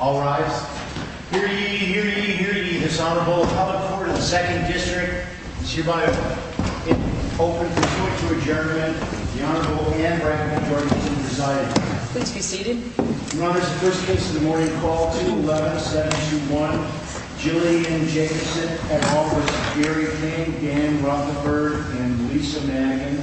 All rise. Hear ye, hear ye, hear ye, this Honorable Appellate Court of the 2nd District. It is hereby open for pursuit to adjournment. The Honorable and Recommended Court is adjourned. Please be seated. Your Honor, this is the first case of the morning. Call 2-11-721. Jillian Jacobson at Office Gary King, Dan Rothenberg, and Lisa Mangan.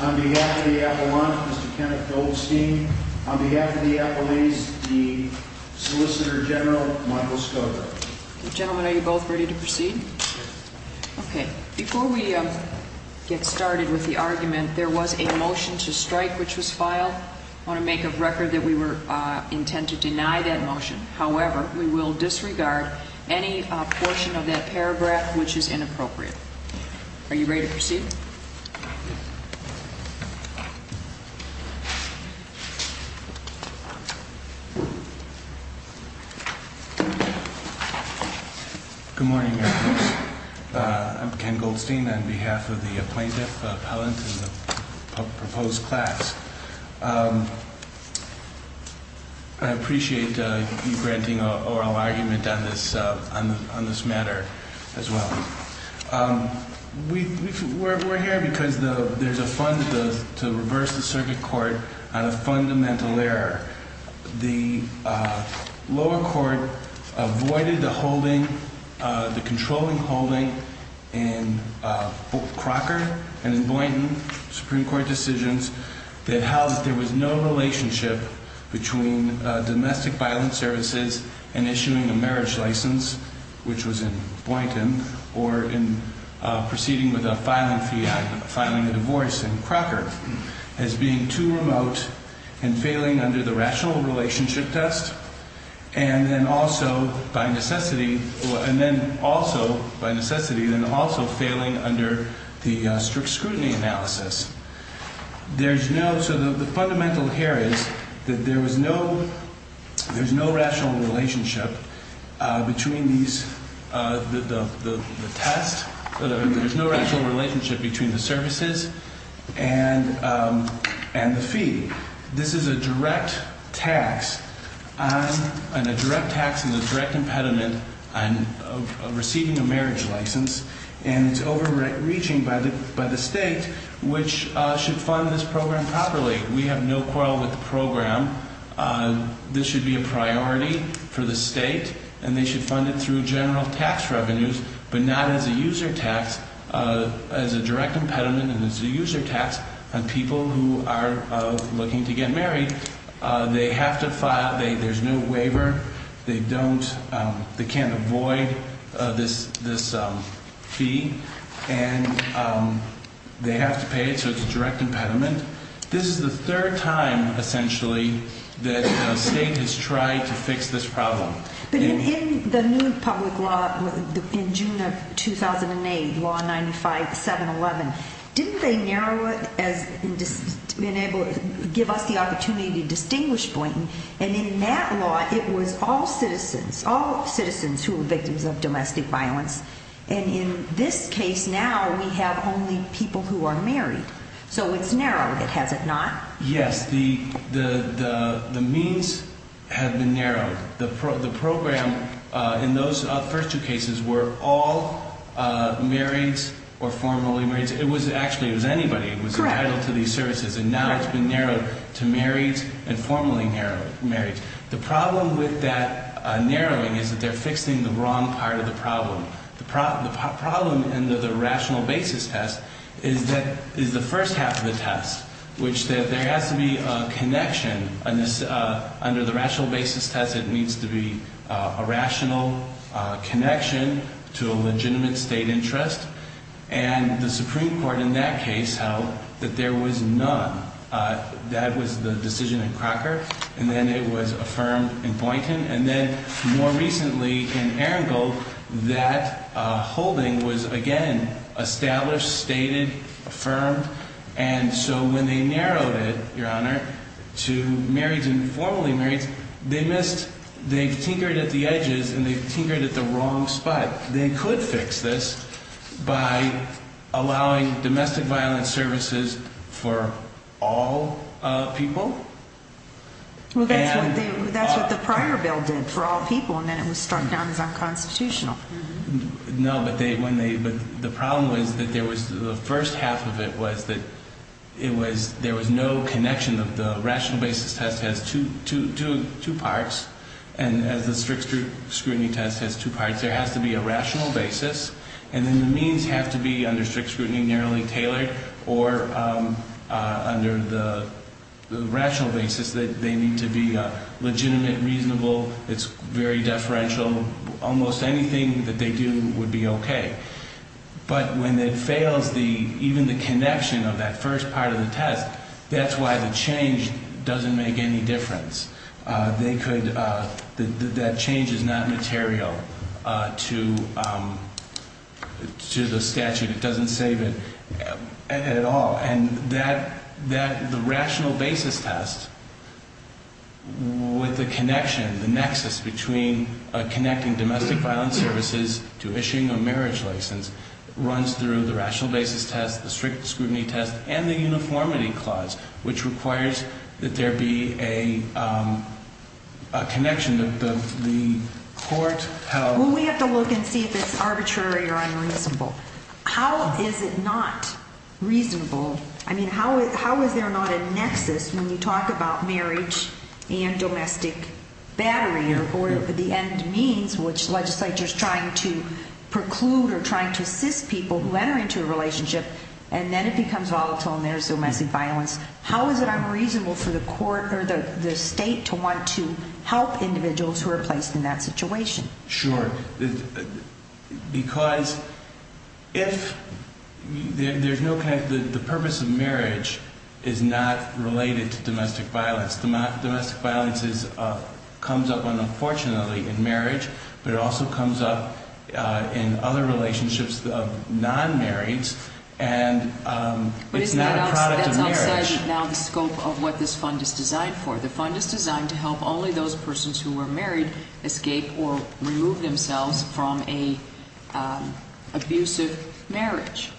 On behalf of the Appellant, Mr. Kenneth Goldstein. On behalf of the Appellees, the Solicitor General, Michael Stoker. Gentlemen, are you both ready to proceed? Yes. Okay. Before we get started with the argument, there was a motion to strike which was filed. I want to make a record that we were intent to deny that motion. However, we will disregard any portion of that paragraph which is inappropriate. Are you ready to proceed? Yes. Good morning, Your Honor. I'm Ken Goldstein on behalf of the Plaintiff, Appellant, and the proposed class. I appreciate you granting oral argument on this matter as well. We're here because there's a fund to reverse the circuit court on a fundamental error. The lower court avoided the controlling holding in Crocker and Boynton Supreme Court decisions that held that there was no relationship between domestic violence services and issuing a marriage license, which was in Boynton, or in proceeding with a filing fee, filing a divorce in Crocker, as being too remote and failing under the rational relationship test, and then also, by necessity, then also failing under the strict scrutiny analysis. So the fundamental here is that there's no rational relationship between the test. There's no rational relationship between the services and the fee. This is a direct tax and a direct tax and a direct impediment on receiving a marriage license, and it's overreaching by the state, which should fund this program properly. We have no quarrel with the program. This should be a priority for the state, and they should fund it through general tax revenues, but not as a user tax, as a direct impediment and as a user tax on people who are looking to get married. They have to file. There's no waiver. They can't avoid this fee, and they have to pay it, so it's a direct impediment. This is the third time, essentially, that the state has tried to fix this problem. But in the new public law in June of 2008, Law 95-711, didn't they narrow it to give us the opportunity to distinguish Blanton, and in that law it was all citizens, all citizens who were victims of domestic violence, and in this case now we have only people who are married, so it's narrowed, has it not? Yes, the means have been narrowed. The program in those first two cases were all married or formally married. It was actually anybody who was entitled to these services, and now it's been narrowed to married and formally married. The problem with that narrowing is that they're fixing the wrong part of the problem. The problem in the rational basis test is the first half of the test, which there has to be a connection. Under the rational basis test, it needs to be a rational connection to a legitimate state interest, and the Supreme Court in that case held that there was none. That was the decision in Crocker, and then it was affirmed in Boynton, and then more recently in Erringal, that holding was again established, stated, affirmed, and so when they narrowed it, Your Honor, to married and formally married, they've tinkered at the edges and they've tinkered at the wrong spot. They could fix this by allowing domestic violence services for all people. Well, that's what the prior bill did for all people, and then it was struck down as unconstitutional. No, but the problem was that the first half of it was that there was no connection. The rational basis test has two parts, and as the strict scrutiny test has two parts, there has to be a rational basis, and then the means have to be under strict scrutiny, narrowly tailored, or under the rational basis that they need to be legitimate, reasonable. It's very deferential. Almost anything that they do would be okay, but when it fails even the connection of that first part of the test, that's why the change doesn't make any difference. That change is not material to the statute. It doesn't save it at all, and the rational basis test with the connection, the nexus between connecting domestic violence services to issuing a marriage license runs through the rational basis test, the strict scrutiny test, and the uniformity clause, which requires that there be a connection of the court held... I mean, how is there not a nexus when you talk about marriage and domestic battery, or the end means, which the legislature is trying to preclude or trying to assist people who enter into a relationship, and then it becomes volatile and there's domestic violence. How is it unreasonable for the state to want to help individuals who are placed in that situation? Sure. Because if there's no connection, the purpose of marriage is not related to domestic violence. Domestic violence comes up unfortunately in marriage, but it also comes up in other relationships of non-marriage, and it's not a product of marriage. But that's outside now the scope of what this fund is designed for. The fund is designed to help only those persons who are married escape or remove themselves from an abusive marriage.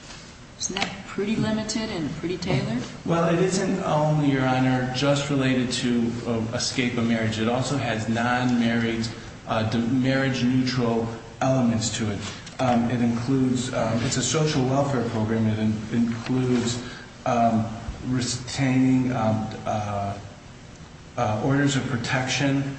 Isn't that pretty limited and pretty tailored? Well, it isn't only, Your Honor, just related to escape of marriage. It also has non-marriage, marriage-neutral elements to it. It's a social welfare program. It includes retaining orders of protection,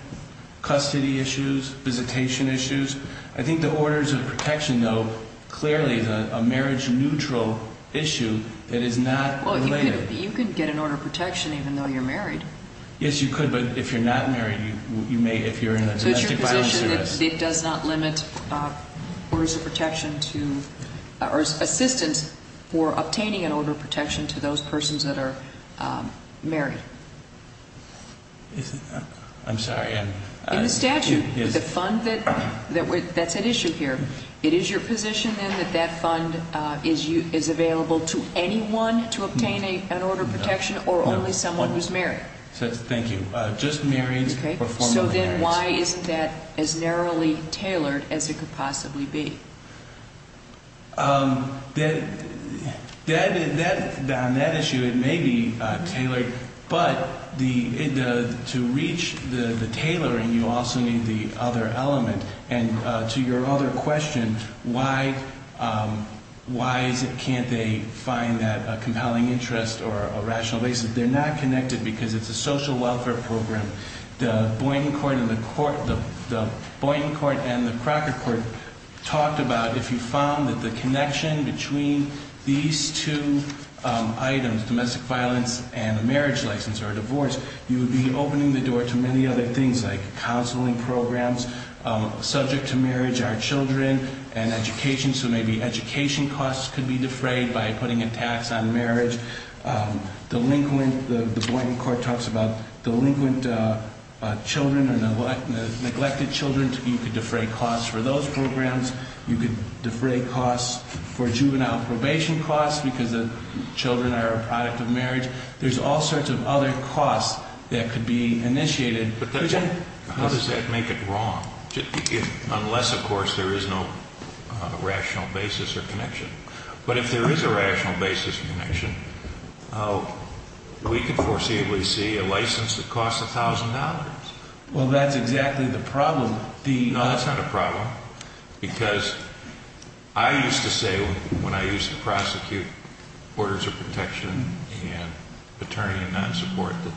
custody issues, visitation issues. I think the orders of protection, though, clearly is a marriage-neutral issue that is not related. Well, you could get an order of protection even though you're married. Yes, you could, but if you're not married, you may if you're in a domestic violence service. It does not limit orders of protection to or assistance for obtaining an order of protection to those persons that are married. I'm sorry. In the statute, the fund that's at issue here, it is your position then that that fund is available to anyone to obtain an order of protection or only someone who's married? Thank you. Just married or formerly married. Then why isn't that as narrowly tailored as it could possibly be? On that issue, it may be tailored, but to reach the tailoring, you also need the other element. And to your other question, why can't they find that compelling interest or a rational basis, they're not connected because it's a social welfare program. The Boynton Court and the Crocker Court talked about if you found that the connection between these two items, domestic violence and a marriage license or a divorce, you would be opening the door to many other things like counseling programs subject to marriage, our children, and education. So maybe education costs could be defrayed by putting a tax on marriage. The Boynton Court talks about delinquent children and neglected children. You could defray costs for those programs. You could defray costs for juvenile probation costs because the children are a product of marriage. There's all sorts of other costs that could be initiated. But how does that make it wrong unless, of course, there is no rational basis or connection? But if there is a rational basis or connection, we could foreseeably see a license that costs $1,000. Well, that's exactly the problem. No, that's not a problem because I used to say when I used to prosecute orders of protection and paternity and non-support, that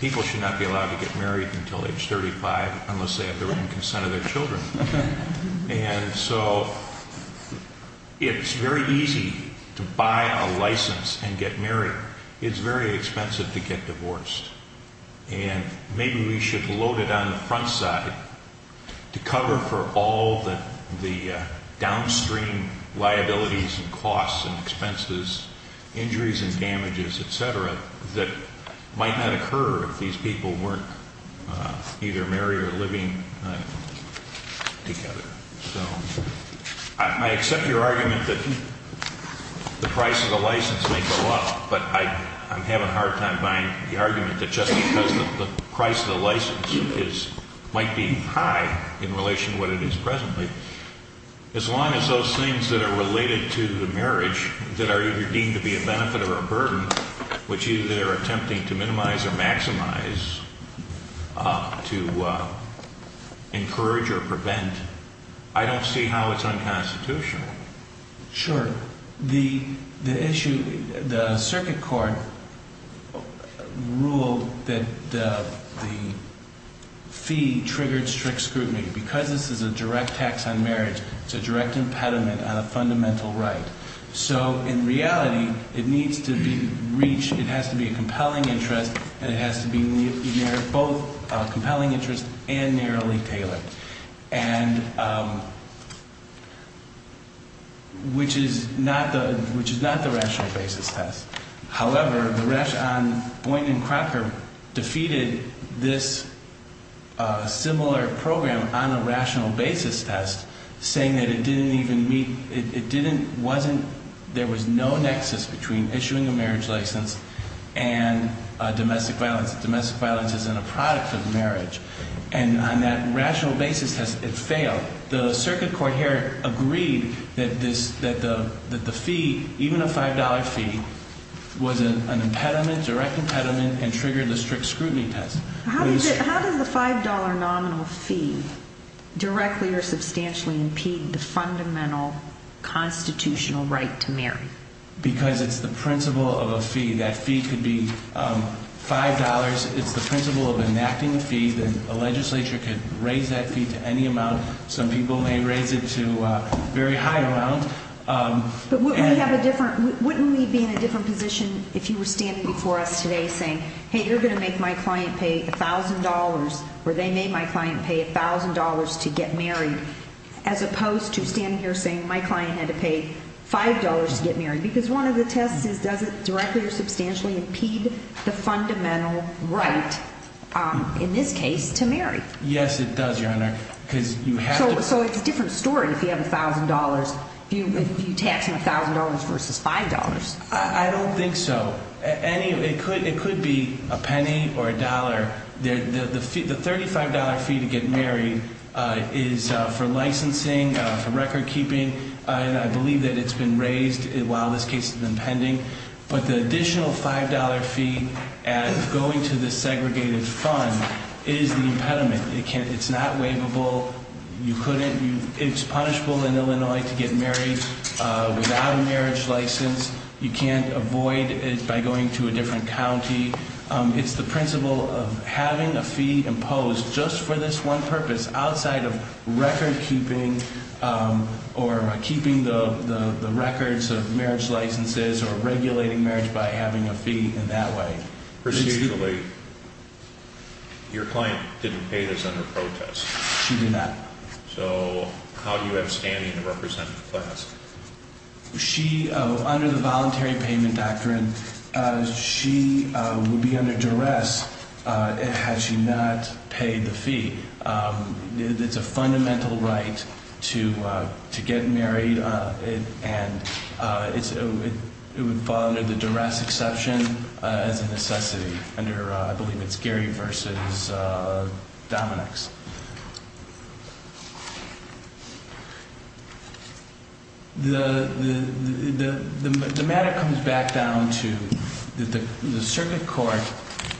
people should not be allowed to get married until age 35 unless they have the written consent of their children. And so it's very easy to buy a license and get married. It's very expensive to get divorced. And maybe we should load it on the front side to cover for all the downstream liabilities and costs and expenses, injuries and damages, et cetera, that might not occur if these people weren't either married or living together. So I accept your argument that the price of the license may go up, but I'm having a hard time buying the argument that just because the price of the license might be high in relation to what it is presently, as long as those things that are related to the marriage that are either deemed to be a benefit or a burden, which either they're attempting to minimize or maximize to encourage or prevent, I don't see how it's unconstitutional. Sure. The issue, the circuit court ruled that the fee triggered strict scrutiny. Because this is a direct tax on marriage, it's a direct impediment on a fundamental right. So in reality, it needs to be reached, it has to be a compelling interest, and it has to be both a compelling interest and narrowly tailored, which is not the rational basis test. However, the rash on Boynton and Crocker defeated this similar program on a rational basis test, saying that it didn't even meet, it didn't, wasn't, there was no nexus between issuing a marriage license and domestic violence. Domestic violence isn't a product of marriage. And on that rational basis test, it failed. The circuit court here agreed that the fee, even a $5 fee, was an impediment, direct impediment, and triggered the strict scrutiny test. How does the $5 nominal fee directly or substantially impede the fundamental constitutional right to marry? Because it's the principle of a fee. That fee could be $5. It's the principle of enacting a fee. Then a legislature could raise that fee to any amount. Some people may raise it to a very high amount. But wouldn't we have a different, wouldn't we be in a different position if you were standing before us today saying, hey, you're going to make my client pay $1,000, or they made my client pay $1,000 to get married, as opposed to standing here saying my client had to pay $5 to get married. Because one of the tests is does it directly or substantially impede the fundamental right, in this case, to marry. Yes, it does, Your Honor, because you have to. So it's a different story if you have $1,000, if you tax them $1,000 versus $5. I don't think so. It could be a penny or a dollar. The $35 fee to get married is for licensing, for record keeping. And I believe that it's been raised while this case has been pending. But the additional $5 fee going to the segregated fund is the impediment. It's not waivable. You couldn't, it's punishable in Illinois to get married without a marriage license. You can't avoid it by going to a different county. It's the principle of having a fee imposed just for this one purpose, outside of record keeping or keeping the records of marriage licenses or regulating marriage by having a fee in that way. Procedurally, your client didn't pay this under protest. She did not. So how do you have standing to represent the class? She, under the voluntary payment doctrine, she would be under duress had she not paid the fee. It's a fundamental right to get married, and it would fall under the duress exception as a necessity, under, I believe it's Gary versus Dominick's. The matter comes back down to the circuit court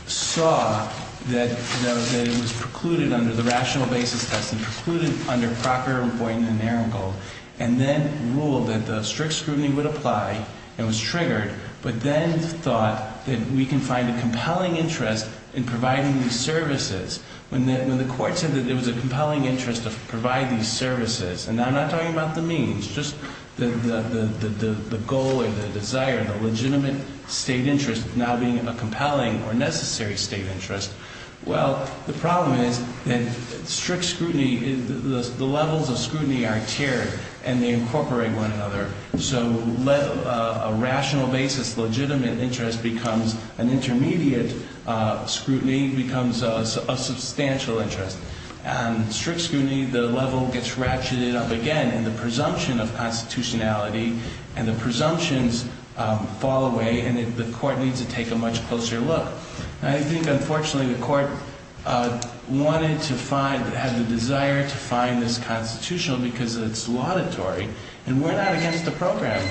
saw that it was precluded under the rational basis test and precluded under Procter, Boynton, and Arongold, and then ruled that the strict scrutiny would apply and was triggered, but then thought that we can find a compelling interest in providing these services. When the court said that there was a compelling interest to provide these services, and I'm not talking about the means, just the goal or the desire, the legitimate state interest now being a compelling or necessary state interest. Well, the problem is that strict scrutiny, the levels of scrutiny are tiered, and they incorporate one another. So a rational basis, legitimate interest becomes an intermediate scrutiny, becomes a substantial interest. And strict scrutiny, the level gets ratcheted up again, and the presumption of constitutionality, and the presumptions fall away, and the court needs to take a much closer look. I think, unfortunately, the court wanted to find, had the desire to find this constitutional because it's laudatory, and we're not against the program.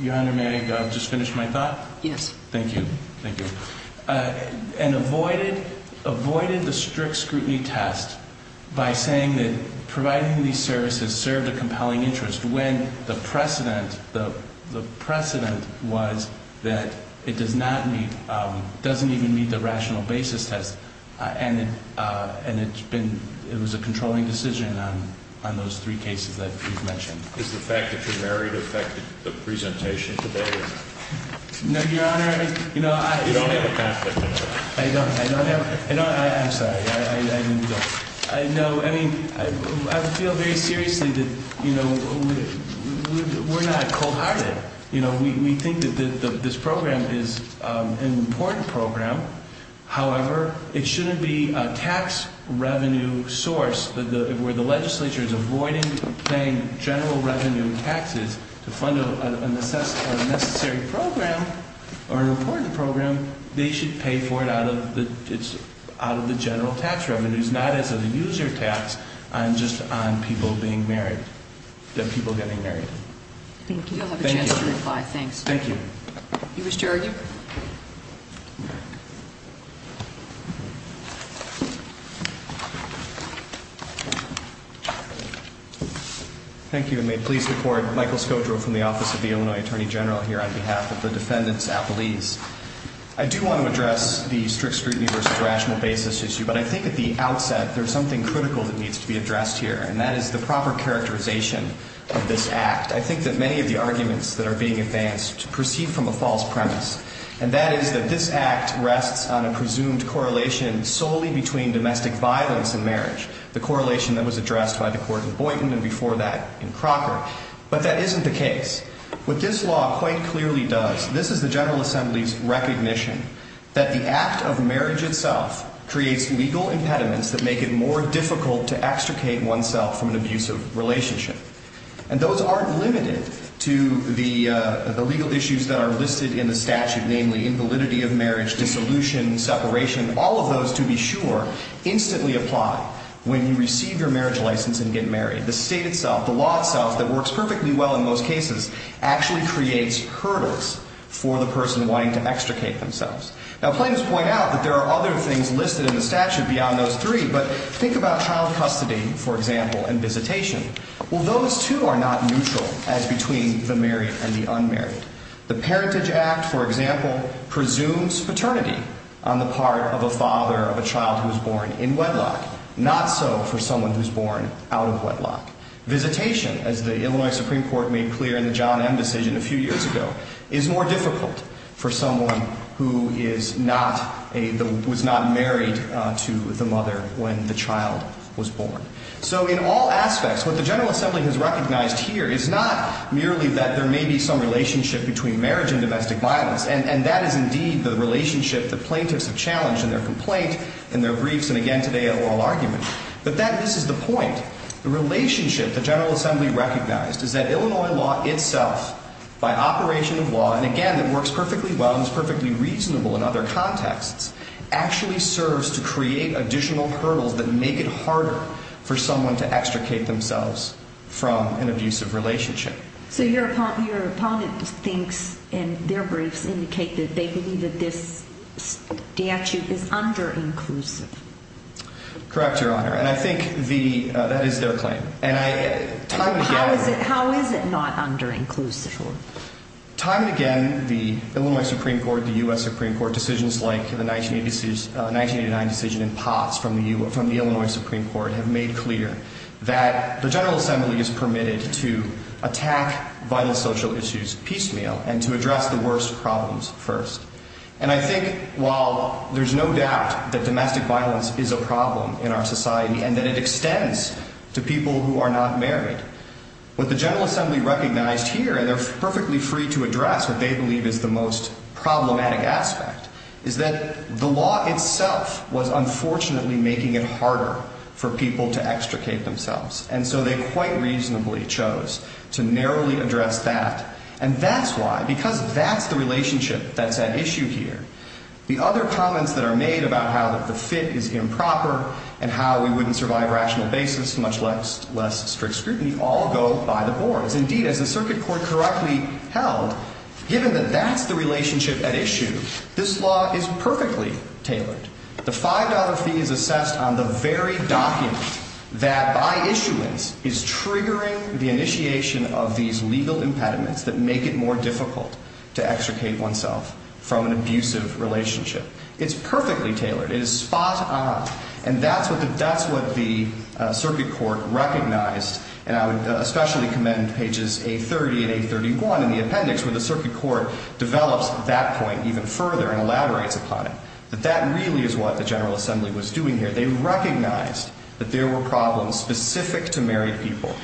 Your Honor, may I just finish my thought? Yes. Thank you. Thank you. And avoided the strict scrutiny test by saying that providing these services served a compelling interest when the precedent was that it does not meet, doesn't even meet the rational basis test, and it's been, it was a controlling decision on those three cases that you've mentioned. Is the fact that you're married affected the presentation today? No, Your Honor. You don't have a conflict of interest. I don't. I don't have a, I don't, I'm sorry, I didn't know. I know, I mean, I feel very seriously that, you know, we're not cold-hearted. You know, we think that this program is an important program. However, it shouldn't be a tax revenue source where the legislature is avoiding paying general revenue taxes to fund a necessary program or an important program. They should pay for it out of the, it's out of the general tax revenues, not as a user tax and just on people being married, the people getting married. Thank you. You'll have a chance to reply. Thanks. Thank you. You wish to argue? Thank you, and may it please the Court, Michael Skodro from the Office of the Illinois Attorney General here on behalf of the defendants' apologies. I do want to address the strict scrutiny versus rational basis issue, but I think at the outset there's something critical that needs to be addressed here, and that is the proper characterization of this act. I think that many of the arguments that are being advanced proceed from a false premise, and that is that this act rests on a presumed correlation solely between domestic violence and marriage, the correlation that was addressed by the Court of Boynton and before that in Crocker. But that isn't the case. What this law quite clearly does, this is the General Assembly's recognition that the act of marriage itself creates legal impediments that make it more difficult to extricate oneself from an abusive relationship. And those aren't limited to the legal issues that are listed in the statute, namely invalidity of marriage, dissolution, separation. All of those, to be sure, instantly apply when you receive your marriage license and get married. The state itself, the law itself, that works perfectly well in most cases, actually creates hurdles for the person wanting to extricate themselves. Now plaintiffs point out that there are other things listed in the statute beyond those three, but think about child custody, for example, and visitation. Well, those two are not neutral as between the married and the unmarried. The Parentage Act, for example, presumes paternity on the part of a father of a child who is born in wedlock, not so for someone who is born out of wedlock. Visitation, as the Illinois Supreme Court made clear in the John M. decision a few years ago, is more difficult for someone who was not married to the mother when the child was born. So in all aspects, what the General Assembly has recognized here is not merely that there may be some relationship between marriage and domestic violence, and that is indeed the relationship that plaintiffs have challenged in their complaint, in their briefs, and again today at oral arguments. But this is the point. The relationship the General Assembly recognized is that Illinois law itself, by operation of law, and again it works perfectly well and is perfectly reasonable in other contexts, actually serves to create additional hurdles that make it harder for someone to extricate themselves from an abusive relationship. So your opponent thinks in their briefs indicate that they believe that this statute is under-inclusive. Correct, Your Honor, and I think that is their claim. How is it not under-inclusive? Time and again, the Illinois Supreme Court, the U.S. Supreme Court, decisions like the 1989 decision in Potts from the Illinois Supreme Court have made clear that the General Assembly is permitted to attack vital social issues piecemeal and to address the worst problems first. And I think while there is no doubt that domestic violence is a problem in our society and that it extends to people who are not married, what the General Assembly recognized here, and they're perfectly free to address what they believe is the most problematic aspect, is that the law itself was unfortunately making it harder for people to extricate themselves. And so they quite reasonably chose to narrowly address that. And that's why, because that's the relationship that's at issue here. The other comments that are made about how the fit is improper and how we wouldn't survive rational basis, much less strict scrutiny, all go by the board. Indeed, as the circuit court correctly held, given that that's the relationship at issue, this law is perfectly tailored. The $5 fee is assessed on the very document that, by issuance, is triggering the initiation of these legal impediments that make it more difficult to extricate oneself from an abusive relationship. It's perfectly tailored. It is spot on. And that's what the circuit court recognized. And I would especially commend pages 830 and 831 in the appendix, where the circuit court develops that point even further and elaborates upon it, that that really is what the General Assembly was doing here. They recognized that there were problems specific to married people,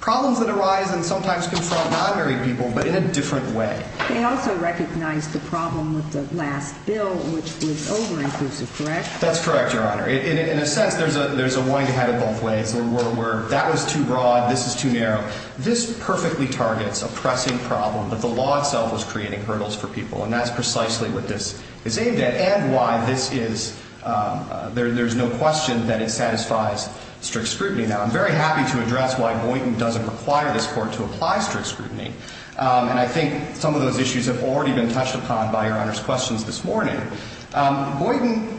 problems that arise and sometimes confront non-married people, but in a different way. They also recognized the problem with the last bill, which was over-inclusive, correct? That's correct, Your Honor. In a sense, there's a wind ahead of both ways, where that was too broad, this is too narrow. This perfectly targets a pressing problem that the law itself was creating hurdles for people, and that's precisely what this is aimed at and why there's no question that it satisfies strict scrutiny. Now, I'm very happy to address why Boyden doesn't require this court to apply strict scrutiny, and I think some of those issues have already been touched upon by Your Honor's questions this morning. Boyden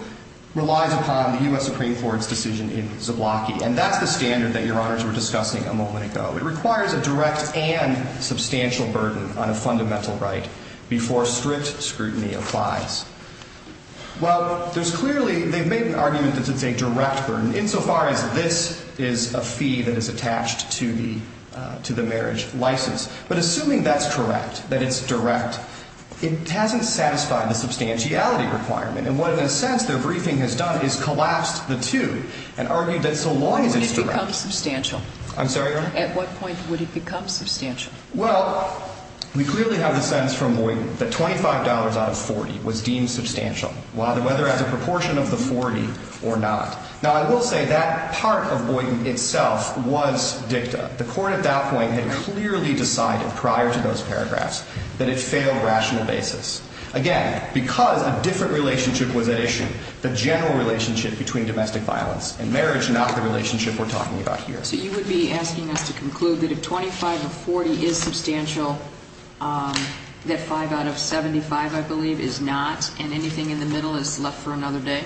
relies upon the U.S. Supreme Court's decision in Zablocki, and that's the standard that Your Honors were discussing a moment ago. It requires a direct and substantial burden on a fundamental right before strict scrutiny applies. Well, there's clearly, they've made an argument that it's a direct burden, insofar as this is a fee that is attached to the marriage license. But assuming that's correct, that it's direct, it hasn't satisfied the substantiality requirement, and what, in a sense, their briefing has done is collapsed the two and argued that so long as it's direct. When would it become substantial? I'm sorry, Your Honor? At what point would it become substantial? Well, we clearly have the sense from Boyden that $25 out of $40 was deemed substantial, whether as a proportion of the $40 or not. Now, I will say that part of Boyden itself was dicta. The Court at that point had clearly decided prior to those paragraphs that it failed rational basis. Again, because a different relationship was at issue, the general relationship between domestic violence and marriage, not the relationship we're talking about here. So you would be asking us to conclude that if $25 out of $40 is substantial, that $5 out of $75, I believe, is not, and anything in the middle is left for another day?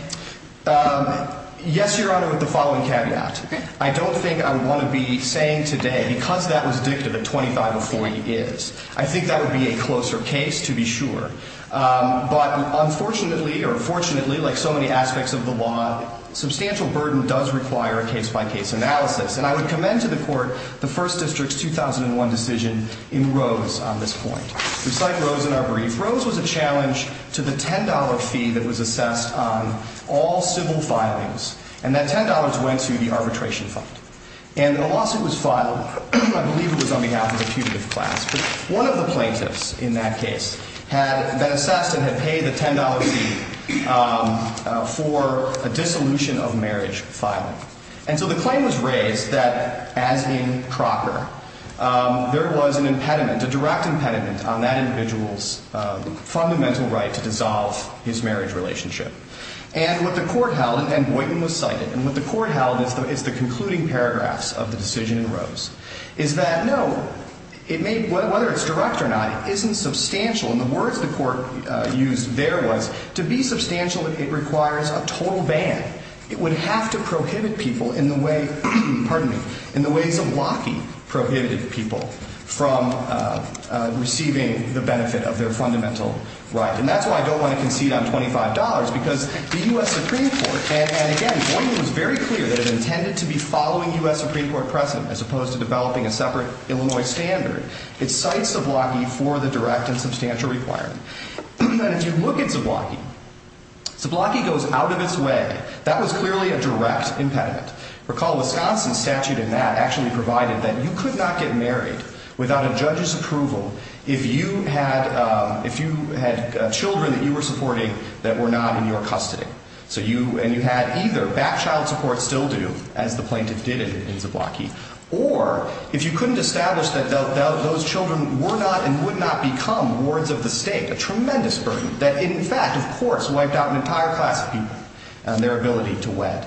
Yes, Your Honor, with the following caveat. I don't think I would want to be saying today, because that was dicta that $25 out of $40 is. I think that would be a closer case, to be sure. But unfortunately, or fortunately, like so many aspects of the law, substantial burden does require a case-by-case analysis, and I would commend to the Court the First District's 2001 decision in Rose on this point. We cite Rose in our brief. Rose was a challenge to the $10 fee that was assessed on all civil filings, and that $10 went to the arbitration fund. And the lawsuit was filed, I believe it was on behalf of a putative class, but one of the plaintiffs in that case had been assessed and had paid the $10 fee for a dissolution of marriage filing. And so the claim was raised that, as in Crocker, there was an impediment, a direct impediment, on that individual's fundamental right to dissolve his marriage relationship. And what the Court held, and Boynton was cited, and what the Court held is the concluding paragraphs of the decision in Rose, is that, no, it may, whether it's direct or not, isn't substantial. And the words the Court used there was, to be substantial, it requires a total ban. It would have to prohibit people in the way, pardon me, in the way Zablocki prohibited people from receiving the benefit of their fundamental right. And that's why I don't want to concede on $25, because the U.S. Supreme Court, and again, Boynton was very clear that it intended to be following U.S. Supreme Court precedent, as opposed to developing a separate Illinois standard. It cites Zablocki for the direct and substantial requirement. But if you look at Zablocki, Zablocki goes out of its way. That was clearly a direct impediment. Recall Wisconsin's statute in that actually provided that you could not get married without a judge's approval if you had children that you were supporting that were not in your custody. So you, and you had either back child support, still do, as the plaintiff did in Zablocki, or if you couldn't establish that those children were not and would not become wards of the state, a tremendous burden that in fact, of course, wiped out an entire class of people and their ability to wed.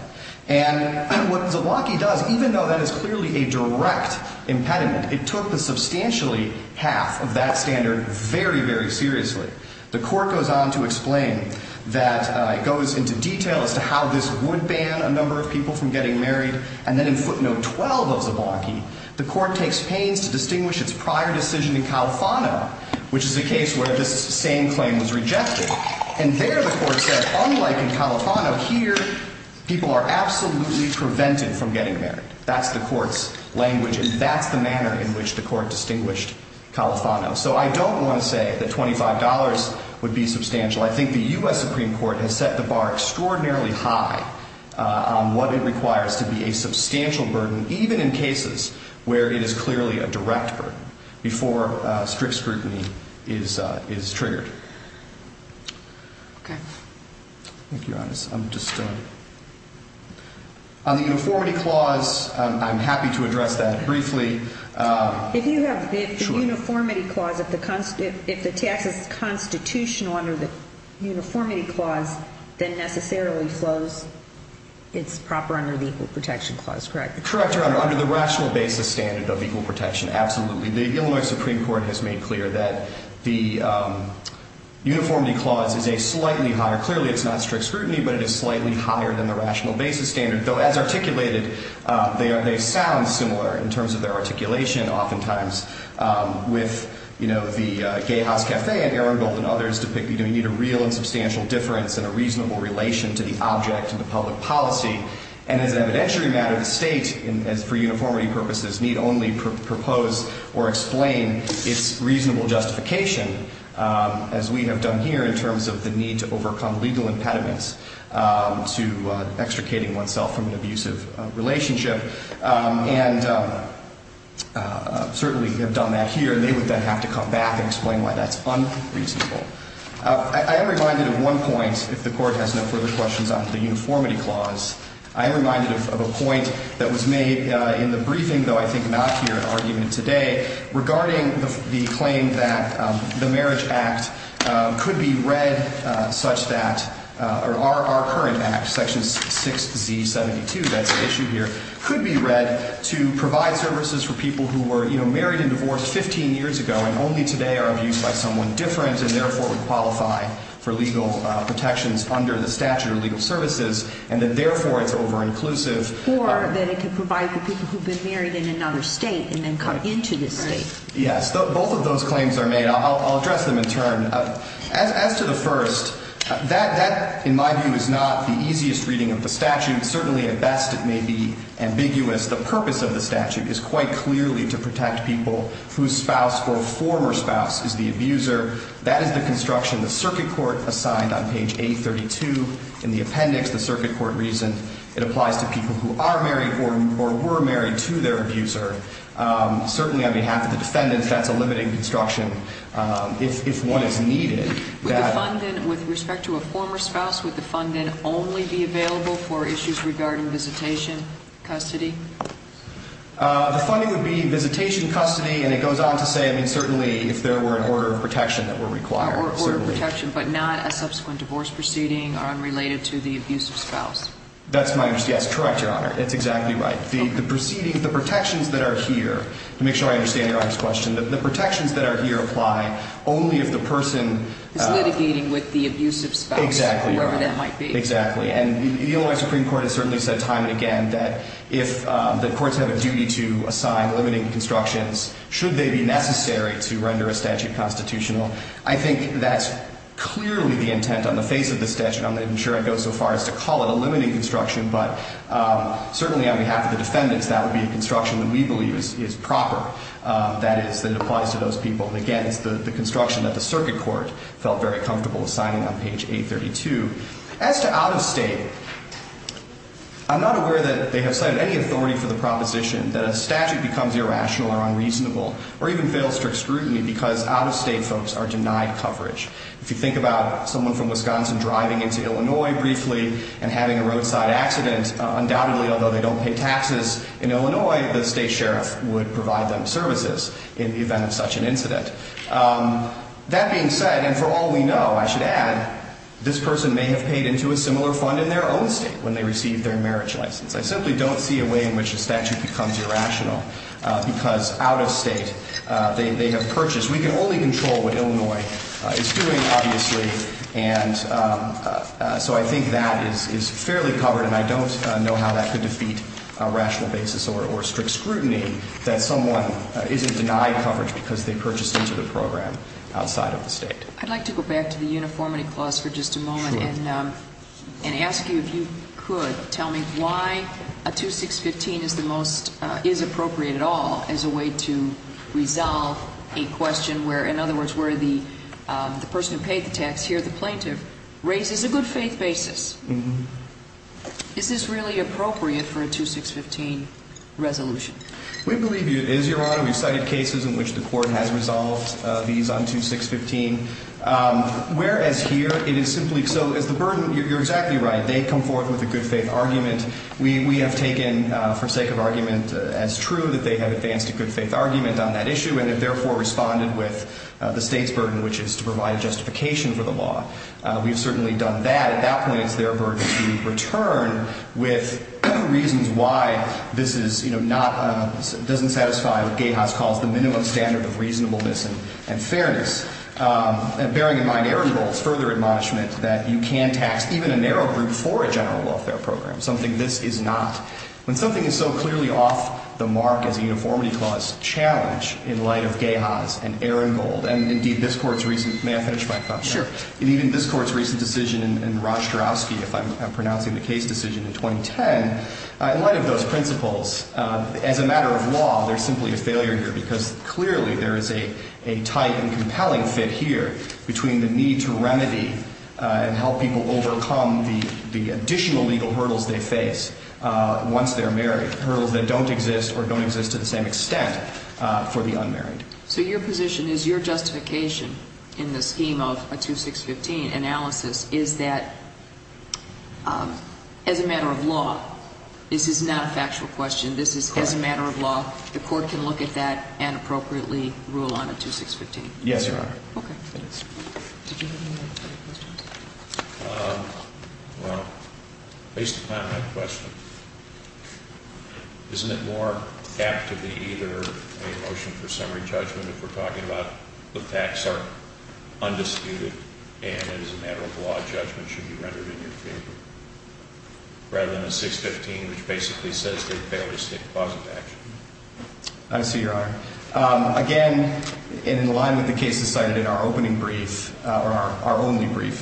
And what Zablocki does, even though that is clearly a direct impediment, it took the substantially half of that standard very, very seriously. The court goes on to explain that it goes into detail as to how this would ban a number of people from getting married. And then in footnote 12 of Zablocki, the court takes pains to distinguish its prior decision in Califano, which is a case where this same claim was rejected. And there the court said, unlike in Califano, here people are absolutely prevented from getting married. That's the court's language, and that's the manner in which the court distinguished Califano. So I don't want to say that $25 would be substantial. I think the U.S. Supreme Court has set the bar extraordinarily high on what it requires to be a substantial burden, even in cases where it is clearly a direct burden, before strict scrutiny is triggered. Thank you, Your Honor. On the uniformity clause, I'm happy to address that briefly. If you have the uniformity clause, if the tax is constitutional under the uniformity clause, then necessarily flows, it's proper under the equal protection clause, correct? Correct, Your Honor, under the rational basis standard of equal protection, absolutely. The Illinois Supreme Court has made clear that the uniformity clause is a slightly higher, clearly it's not strict scrutiny, but it is slightly higher than the rational basis standard, though as articulated, they sound similar in terms of their articulation, oftentimes with, you know, the Gay House Café and Ehrenbold and others, depicting that we need a real and substantial difference in a reasonable relation to the object and the public policy, and as an evidentiary matter, the state, for uniformity purposes, need only propose or explain its reasonable justification, as we have done here in terms of the need to overcome legal impediments to extricating oneself from an abusive relationship, and certainly have done that here, and they would then have to come back and explain why that's unreasonable. I am reminded of one point, if the Court has no further questions on the uniformity clause, I am reminded of a point that was made in the briefing, though I think not here in argument today, regarding the claim that the Marriage Act could be read such that, or our current Act, Section 6Z72, that's the issue here, could be read to provide services for people who were married and divorced 15 years ago, and only today are abused by someone different, and therefore would qualify for legal protections under the statute of legal services, and that therefore it's over-inclusive. Or that it could provide for people who've been married in another state and then come into this state. Yes, both of those claims are made. I'll address them in turn. As to the first, that, in my view, is not the easiest reading of the statute. Certainly, at best, it may be ambiguous. The purpose of the statute is quite clearly to protect people whose spouse or former spouse is the abuser. That is the construction the circuit court assigned on page 832 in the appendix, the circuit court reason. It applies to people who are married or were married to their abuser. Certainly, on behalf of the defendants, that's a limiting construction if one is needed. With respect to a former spouse, would the funding only be available for issues regarding visitation, custody? The funding would be visitation, custody, and it goes on to say, I mean, certainly, if there were an order of protection that were required. Order of protection, but not a subsequent divorce proceeding unrelated to the abusive spouse. That's my understanding. That's correct, Your Honor. That's exactly right. The proceedings, the protections that are here, to make sure I understand Your Honor's question, the protections that are here apply only if the person is litigating with the abusive spouse, whoever that might be. Exactly, Your Honor. And the Illinois Supreme Court has certainly said time and again that if the courts have a duty to assign limiting constructions, should they be necessary to render a statute constitutional? I think that's clearly the intent on the face of the statute. I'm not even sure I'd go so far as to call it a limiting construction, but certainly on behalf of the defendants, that would be a construction that we believe is proper. That is, that it applies to those people. And, again, it's the construction that the circuit court felt very comfortable assigning on page 832. As to out-of-state, I'm not aware that they have cited any authority for the proposition that a statute becomes irrational or unreasonable or even fails strict scrutiny because out-of-state folks are denied coverage. If you think about someone from Wisconsin driving into Illinois briefly and having a roadside accident, undoubtedly, although they don't pay taxes in Illinois, the state sheriff would provide them services in the event of such an incident. That being said, and for all we know, I should add, this person may have paid into a similar fund in their own state when they received their marriage license. I simply don't see a way in which a statute becomes irrational because out-of-state they have purchased. We can only control what Illinois is doing, obviously, and so I think that is fairly covered, and I don't know how that could defeat a rational basis or strict scrutiny that someone isn't denied coverage because they purchased into the program outside of the state. I'd like to go back to the uniformity clause for just a moment and ask you, if you could, tell me why a 2615 is appropriate at all as a way to resolve a question where, in other words, where the person who paid the tax here, the plaintiff, raises a good faith basis. Is this really appropriate for a 2615 resolution? We believe it is, Your Honor. We've cited cases in which the court has resolved these on 2615, whereas here it is simply so as the burden. You're exactly right. They come forth with a good faith argument. We have taken for sake of argument as true that they have advanced a good faith argument on that issue and have therefore responded with the state's burden, which is to provide justification for the law. We have certainly done that. At that point, it's their burden to return with reasons why this doesn't satisfy what Gahaz calls the minimum standard of reasonableness and fairness, bearing in mind Ehrenbold's further admonishment that you can tax even a narrow group for a general welfare program, something this is not. When something is so clearly off the mark as a uniformity clause challenge in light of Gahaz and Ehrenbold and indeed this Court's recent decision in Rostrowski, if I'm pronouncing the case decision in 2010, in light of those principles, as a matter of law, there's simply a failure here because clearly there is a tight and compelling fit here between the need to remedy and help people overcome the additional legal hurdles they face once they're married, hurdles that don't exist or don't exist to the same extent for the unmarried. So your position is your justification in the scheme of a 2615 analysis is that, as a matter of law, this is not a factual question. This is, as a matter of law, the Court can look at that and appropriately rule on a 2615. Yes, Your Honor. Okay. Did you have any other questions? Well, based upon that question, isn't it more apt to be either a motion for summary judgment if we're talking about the facts are undisputed and, as a matter of law, judgment should be rendered in your favor rather than a 615, which basically says they fail to state the cause of action? I see, Your Honor. Again, in line with the cases cited in our opening brief or our only brief,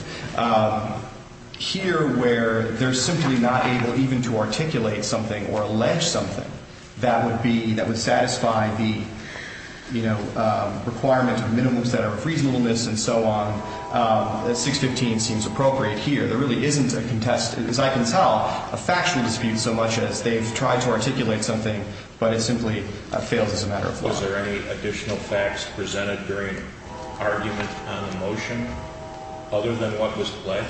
here where they're simply not able even to articulate something or allege something that would be, that would satisfy the, you know, requirement of minimums that are of reasonableness and so on, a 615 seems appropriate here. There really isn't a contest, as I can tell, a factual dispute so much as they've tried to articulate something, but it simply fails as a matter of law. Was there any additional facts presented during argument on the motion other than what was pledged?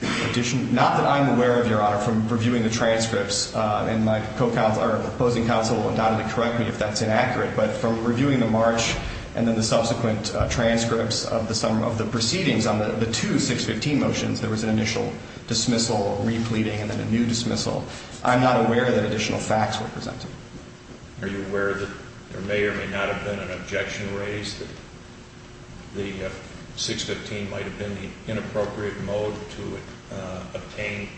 Not that I'm aware of, Your Honor, from reviewing the transcripts, and my opposing counsel will undoubtedly correct me if that's inaccurate, but from reviewing the March and then the subsequent transcripts of the proceedings on the two 615 motions, there was an initial dismissal, repleting, and then a new dismissal. I'm not aware that additional facts were presented. Are you aware that there may or may not have been an objection raised that the 615 might have been the inappropriate mode to obtain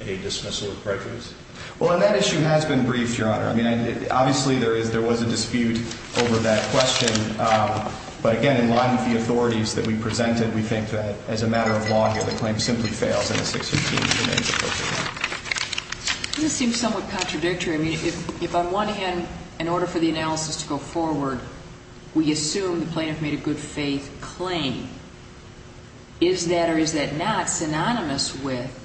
a dismissal of prejudice? Well, and that issue has been briefed, Your Honor. I mean, obviously there is, there was a dispute over that question, but again, in line with the authorities that we presented, we think that as a matter of law here, the claim simply fails in the 615. This seems somewhat contradictory. I mean, if on one hand, in order for the analysis to go forward, we assume the plaintiff made a good faith claim. Is that or is that not synonymous with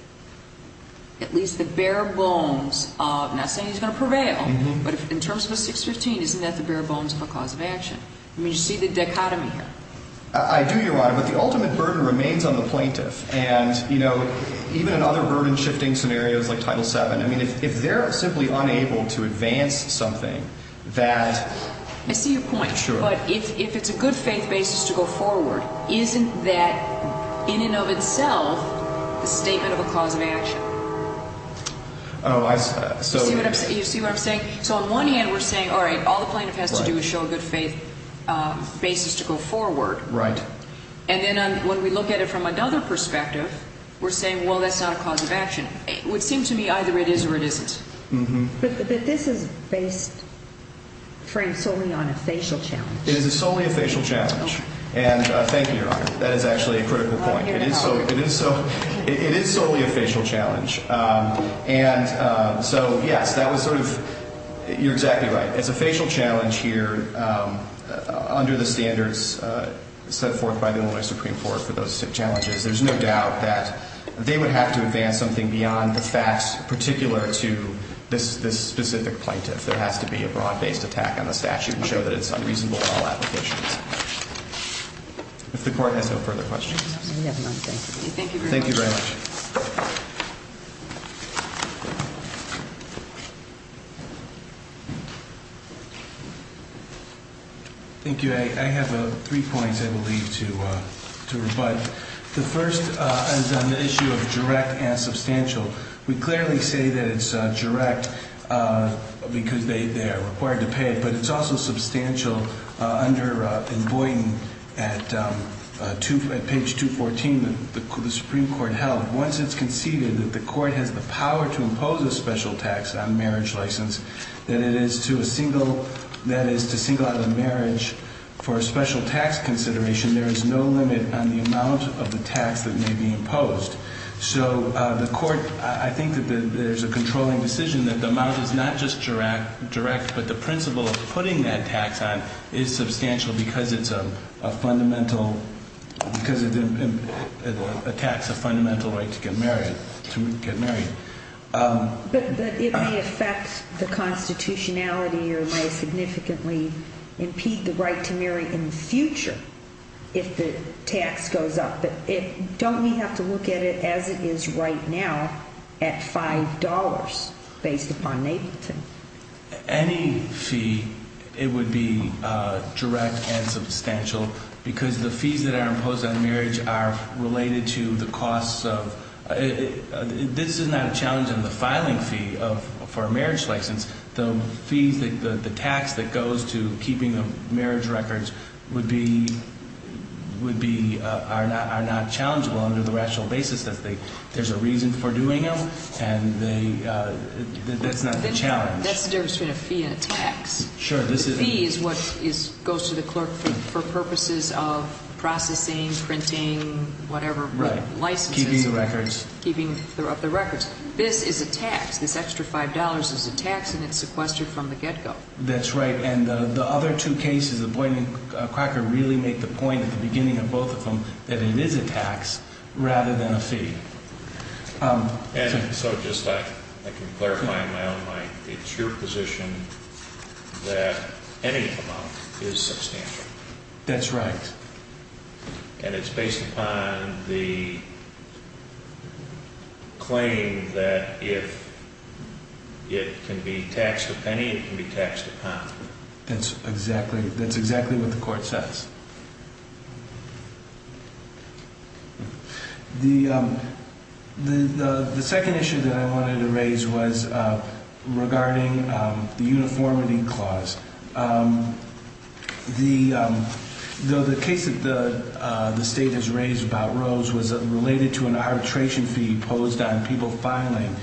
at least the bare bones of, not saying he's going to prevail, but in terms of the 615, isn't that the bare bones of a cause of action? I mean, do you see the dichotomy here? I do, Your Honor, but the ultimate burden remains on the plaintiff, and, you know, even in other burden-shifting scenarios like Title VII, I mean, if they're simply unable to advance something that... I see your point. Sure. But if it's a good faith basis to go forward, isn't that in and of itself a statement of a cause of action? Oh, I, so... You see what I'm saying? So on one hand, we're saying, all right, all the plaintiff has to do is show a good faith basis to go forward. Right. And then when we look at it from another perspective, we're saying, well, that's not a cause of action. It would seem to me either it is or it isn't. Mm-hmm. But this is based, framed solely on a facial challenge. It is solely a facial challenge. And thank you, Your Honor. That is actually a critical point. It is solely a facial challenge. And so, yes, that was sort of, you're exactly right. It's a facial challenge here under the standards set forth by the Illinois Supreme Court for those challenges. There's no doubt that they would have to advance something beyond the facts particular to this specific plaintiff. There has to be a broad-based attack on the statute and show that it's unreasonable in all applications. If the Court has no further questions. Thank you very much. Thank you very much. Thank you. I have three points, I believe, to rebut. The first is on the issue of direct and substantial. We clearly say that it's direct because they are required to pay it. But it's also substantial under in Boynton at page 214 that the Supreme Court held. Once it's conceded that the Court has the power to impose a special tax on marriage license, that is to single out a marriage for a special tax consideration, there is no limit on the amount of the tax that may be imposed. So the Court, I think that there's a controlling decision that the amount is not just direct, but the principle of putting that tax on is substantial because it's a fundamental, because it attacks a fundamental right to get married. But it may affect the constitutionality or may significantly impede the right to marry in the future if the tax goes up. But don't we have to look at it as it is right now at $5 based upon Nableton? Any fee, it would be direct and substantial because the fees that are imposed on marriage are related to the costs of, this is not a challenge in the filing fee for a marriage license. The fees, the tax that goes to keeping the marriage records would be, are not challengeable under the rational basis that there's a reason for doing them and that's not a challenge. That's the difference between a fee and a tax. Sure, this is. The fee is what goes to the clerk for purposes of processing, printing, whatever, licenses. Right, keeping the records. Keeping the records. This is a tax. This extra $5 is a tax and it's sequestered from the get-go. That's right. And the other two cases, the Boyd and Cracker really make the point at the beginning of both of them that it is a tax rather than a fee. And so just I can clarify in my own mind, it's your position that any amount is substantial. That's right. And it's based upon the claim that if it can be taxed a penny, it can be taxed a pound. That's exactly what the court says. The second issue that I wanted to raise was regarding the uniformity clause. The case that the State has raised about Rose was related to an arbitration fee imposed on people filing.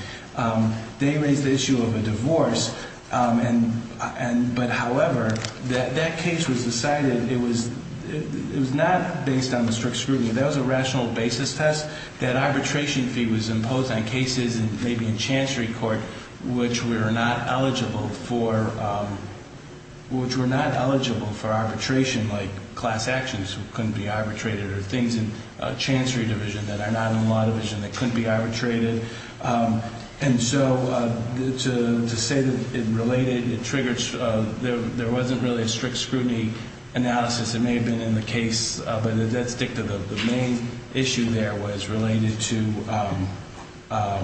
They raised the issue of a divorce, but however, that case was decided, it was not based on the strict scrutiny. That was a rational basis test. That arbitration fee was imposed on cases, maybe in Chancery Court, which were not eligible for arbitration, like class actions couldn't be arbitrated or things in Chancery Division that are not in Law Division that couldn't be arbitrated. And so to say that it related, it triggered, there wasn't really a strict scrutiny analysis. It may have been in the case, but that's dictative. The main issue there was related to, it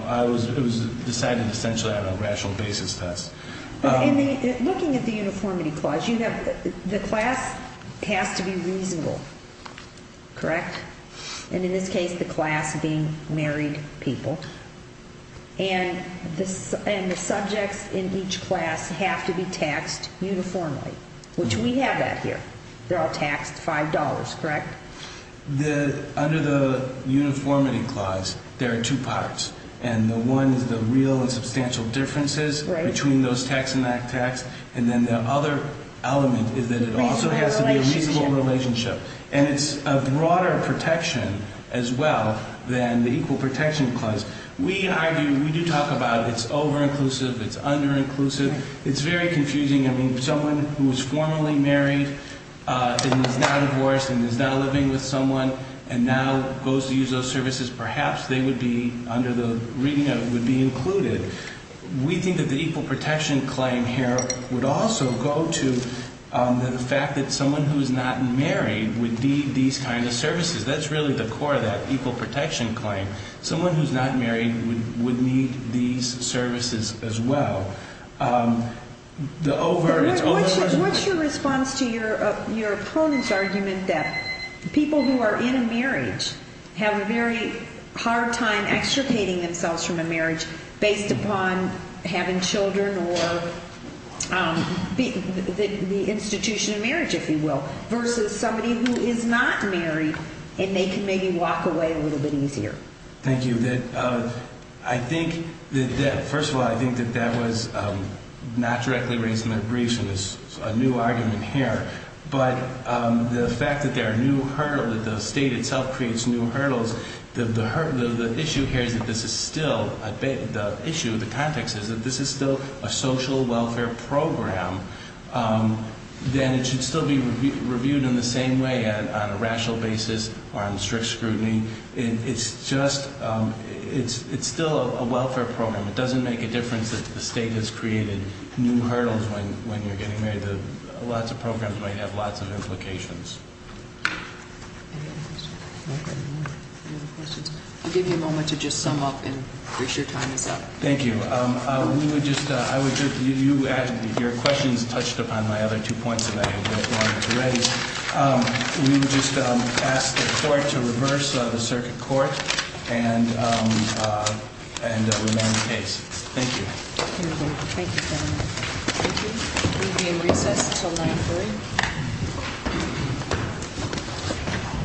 was decided essentially on a rational basis test. Looking at the uniformity clause, the class has to be reasonable, correct? And in this case, the class being married people. And the subjects in each class have to be taxed uniformly, which we have that here. They're all taxed $5, correct? Under the uniformity clause, there are two parts. And the one is the real and substantial differences between those taxed and not taxed. And then the other element is that it also has to be a reasonable relationship. And it's a broader protection as well than the equal protection clause. We argue, we do talk about it's over-inclusive, it's under-inclusive. It's very confusing. I mean, someone who is formally married and is now divorced and is now living with someone and now goes to use those services, perhaps they would be, under the reading of it, would be included. We think that the equal protection claim here would also go to the fact that someone who is not married would need these kinds of services. That's really the core of that equal protection claim. Someone who is not married would need these services as well. What's your response to your opponent's argument that people who are in a marriage have a very hard time extricating themselves from a marriage based upon having children or the institution of marriage, if you will, versus somebody who is not married and they can maybe walk away a little bit easier? Thank you. I think that, first of all, I think that that was not directly raised in the briefs and it's a new argument here. But the fact that there are new hurdles, that the state itself creates new hurdles, the issue here is that this is still, the issue, the context is that this is still a social welfare program. Then it should still be reviewed in the same way on a rational basis or on strict scrutiny. It's just, it's still a welfare program. It doesn't make a difference that the state has created new hurdles when you're getting married. Lots of programs might have lots of implications. I'll give you a moment to just sum up and make sure your time is up. Thank you. We would just, I would just, you asked, your questions touched upon my other two points that I wanted to raise. We would just ask the court to reverse the circuit court and remain in case. Thank you. Thank you, gentlemen. Thank you. We'll be in recess until 9.30.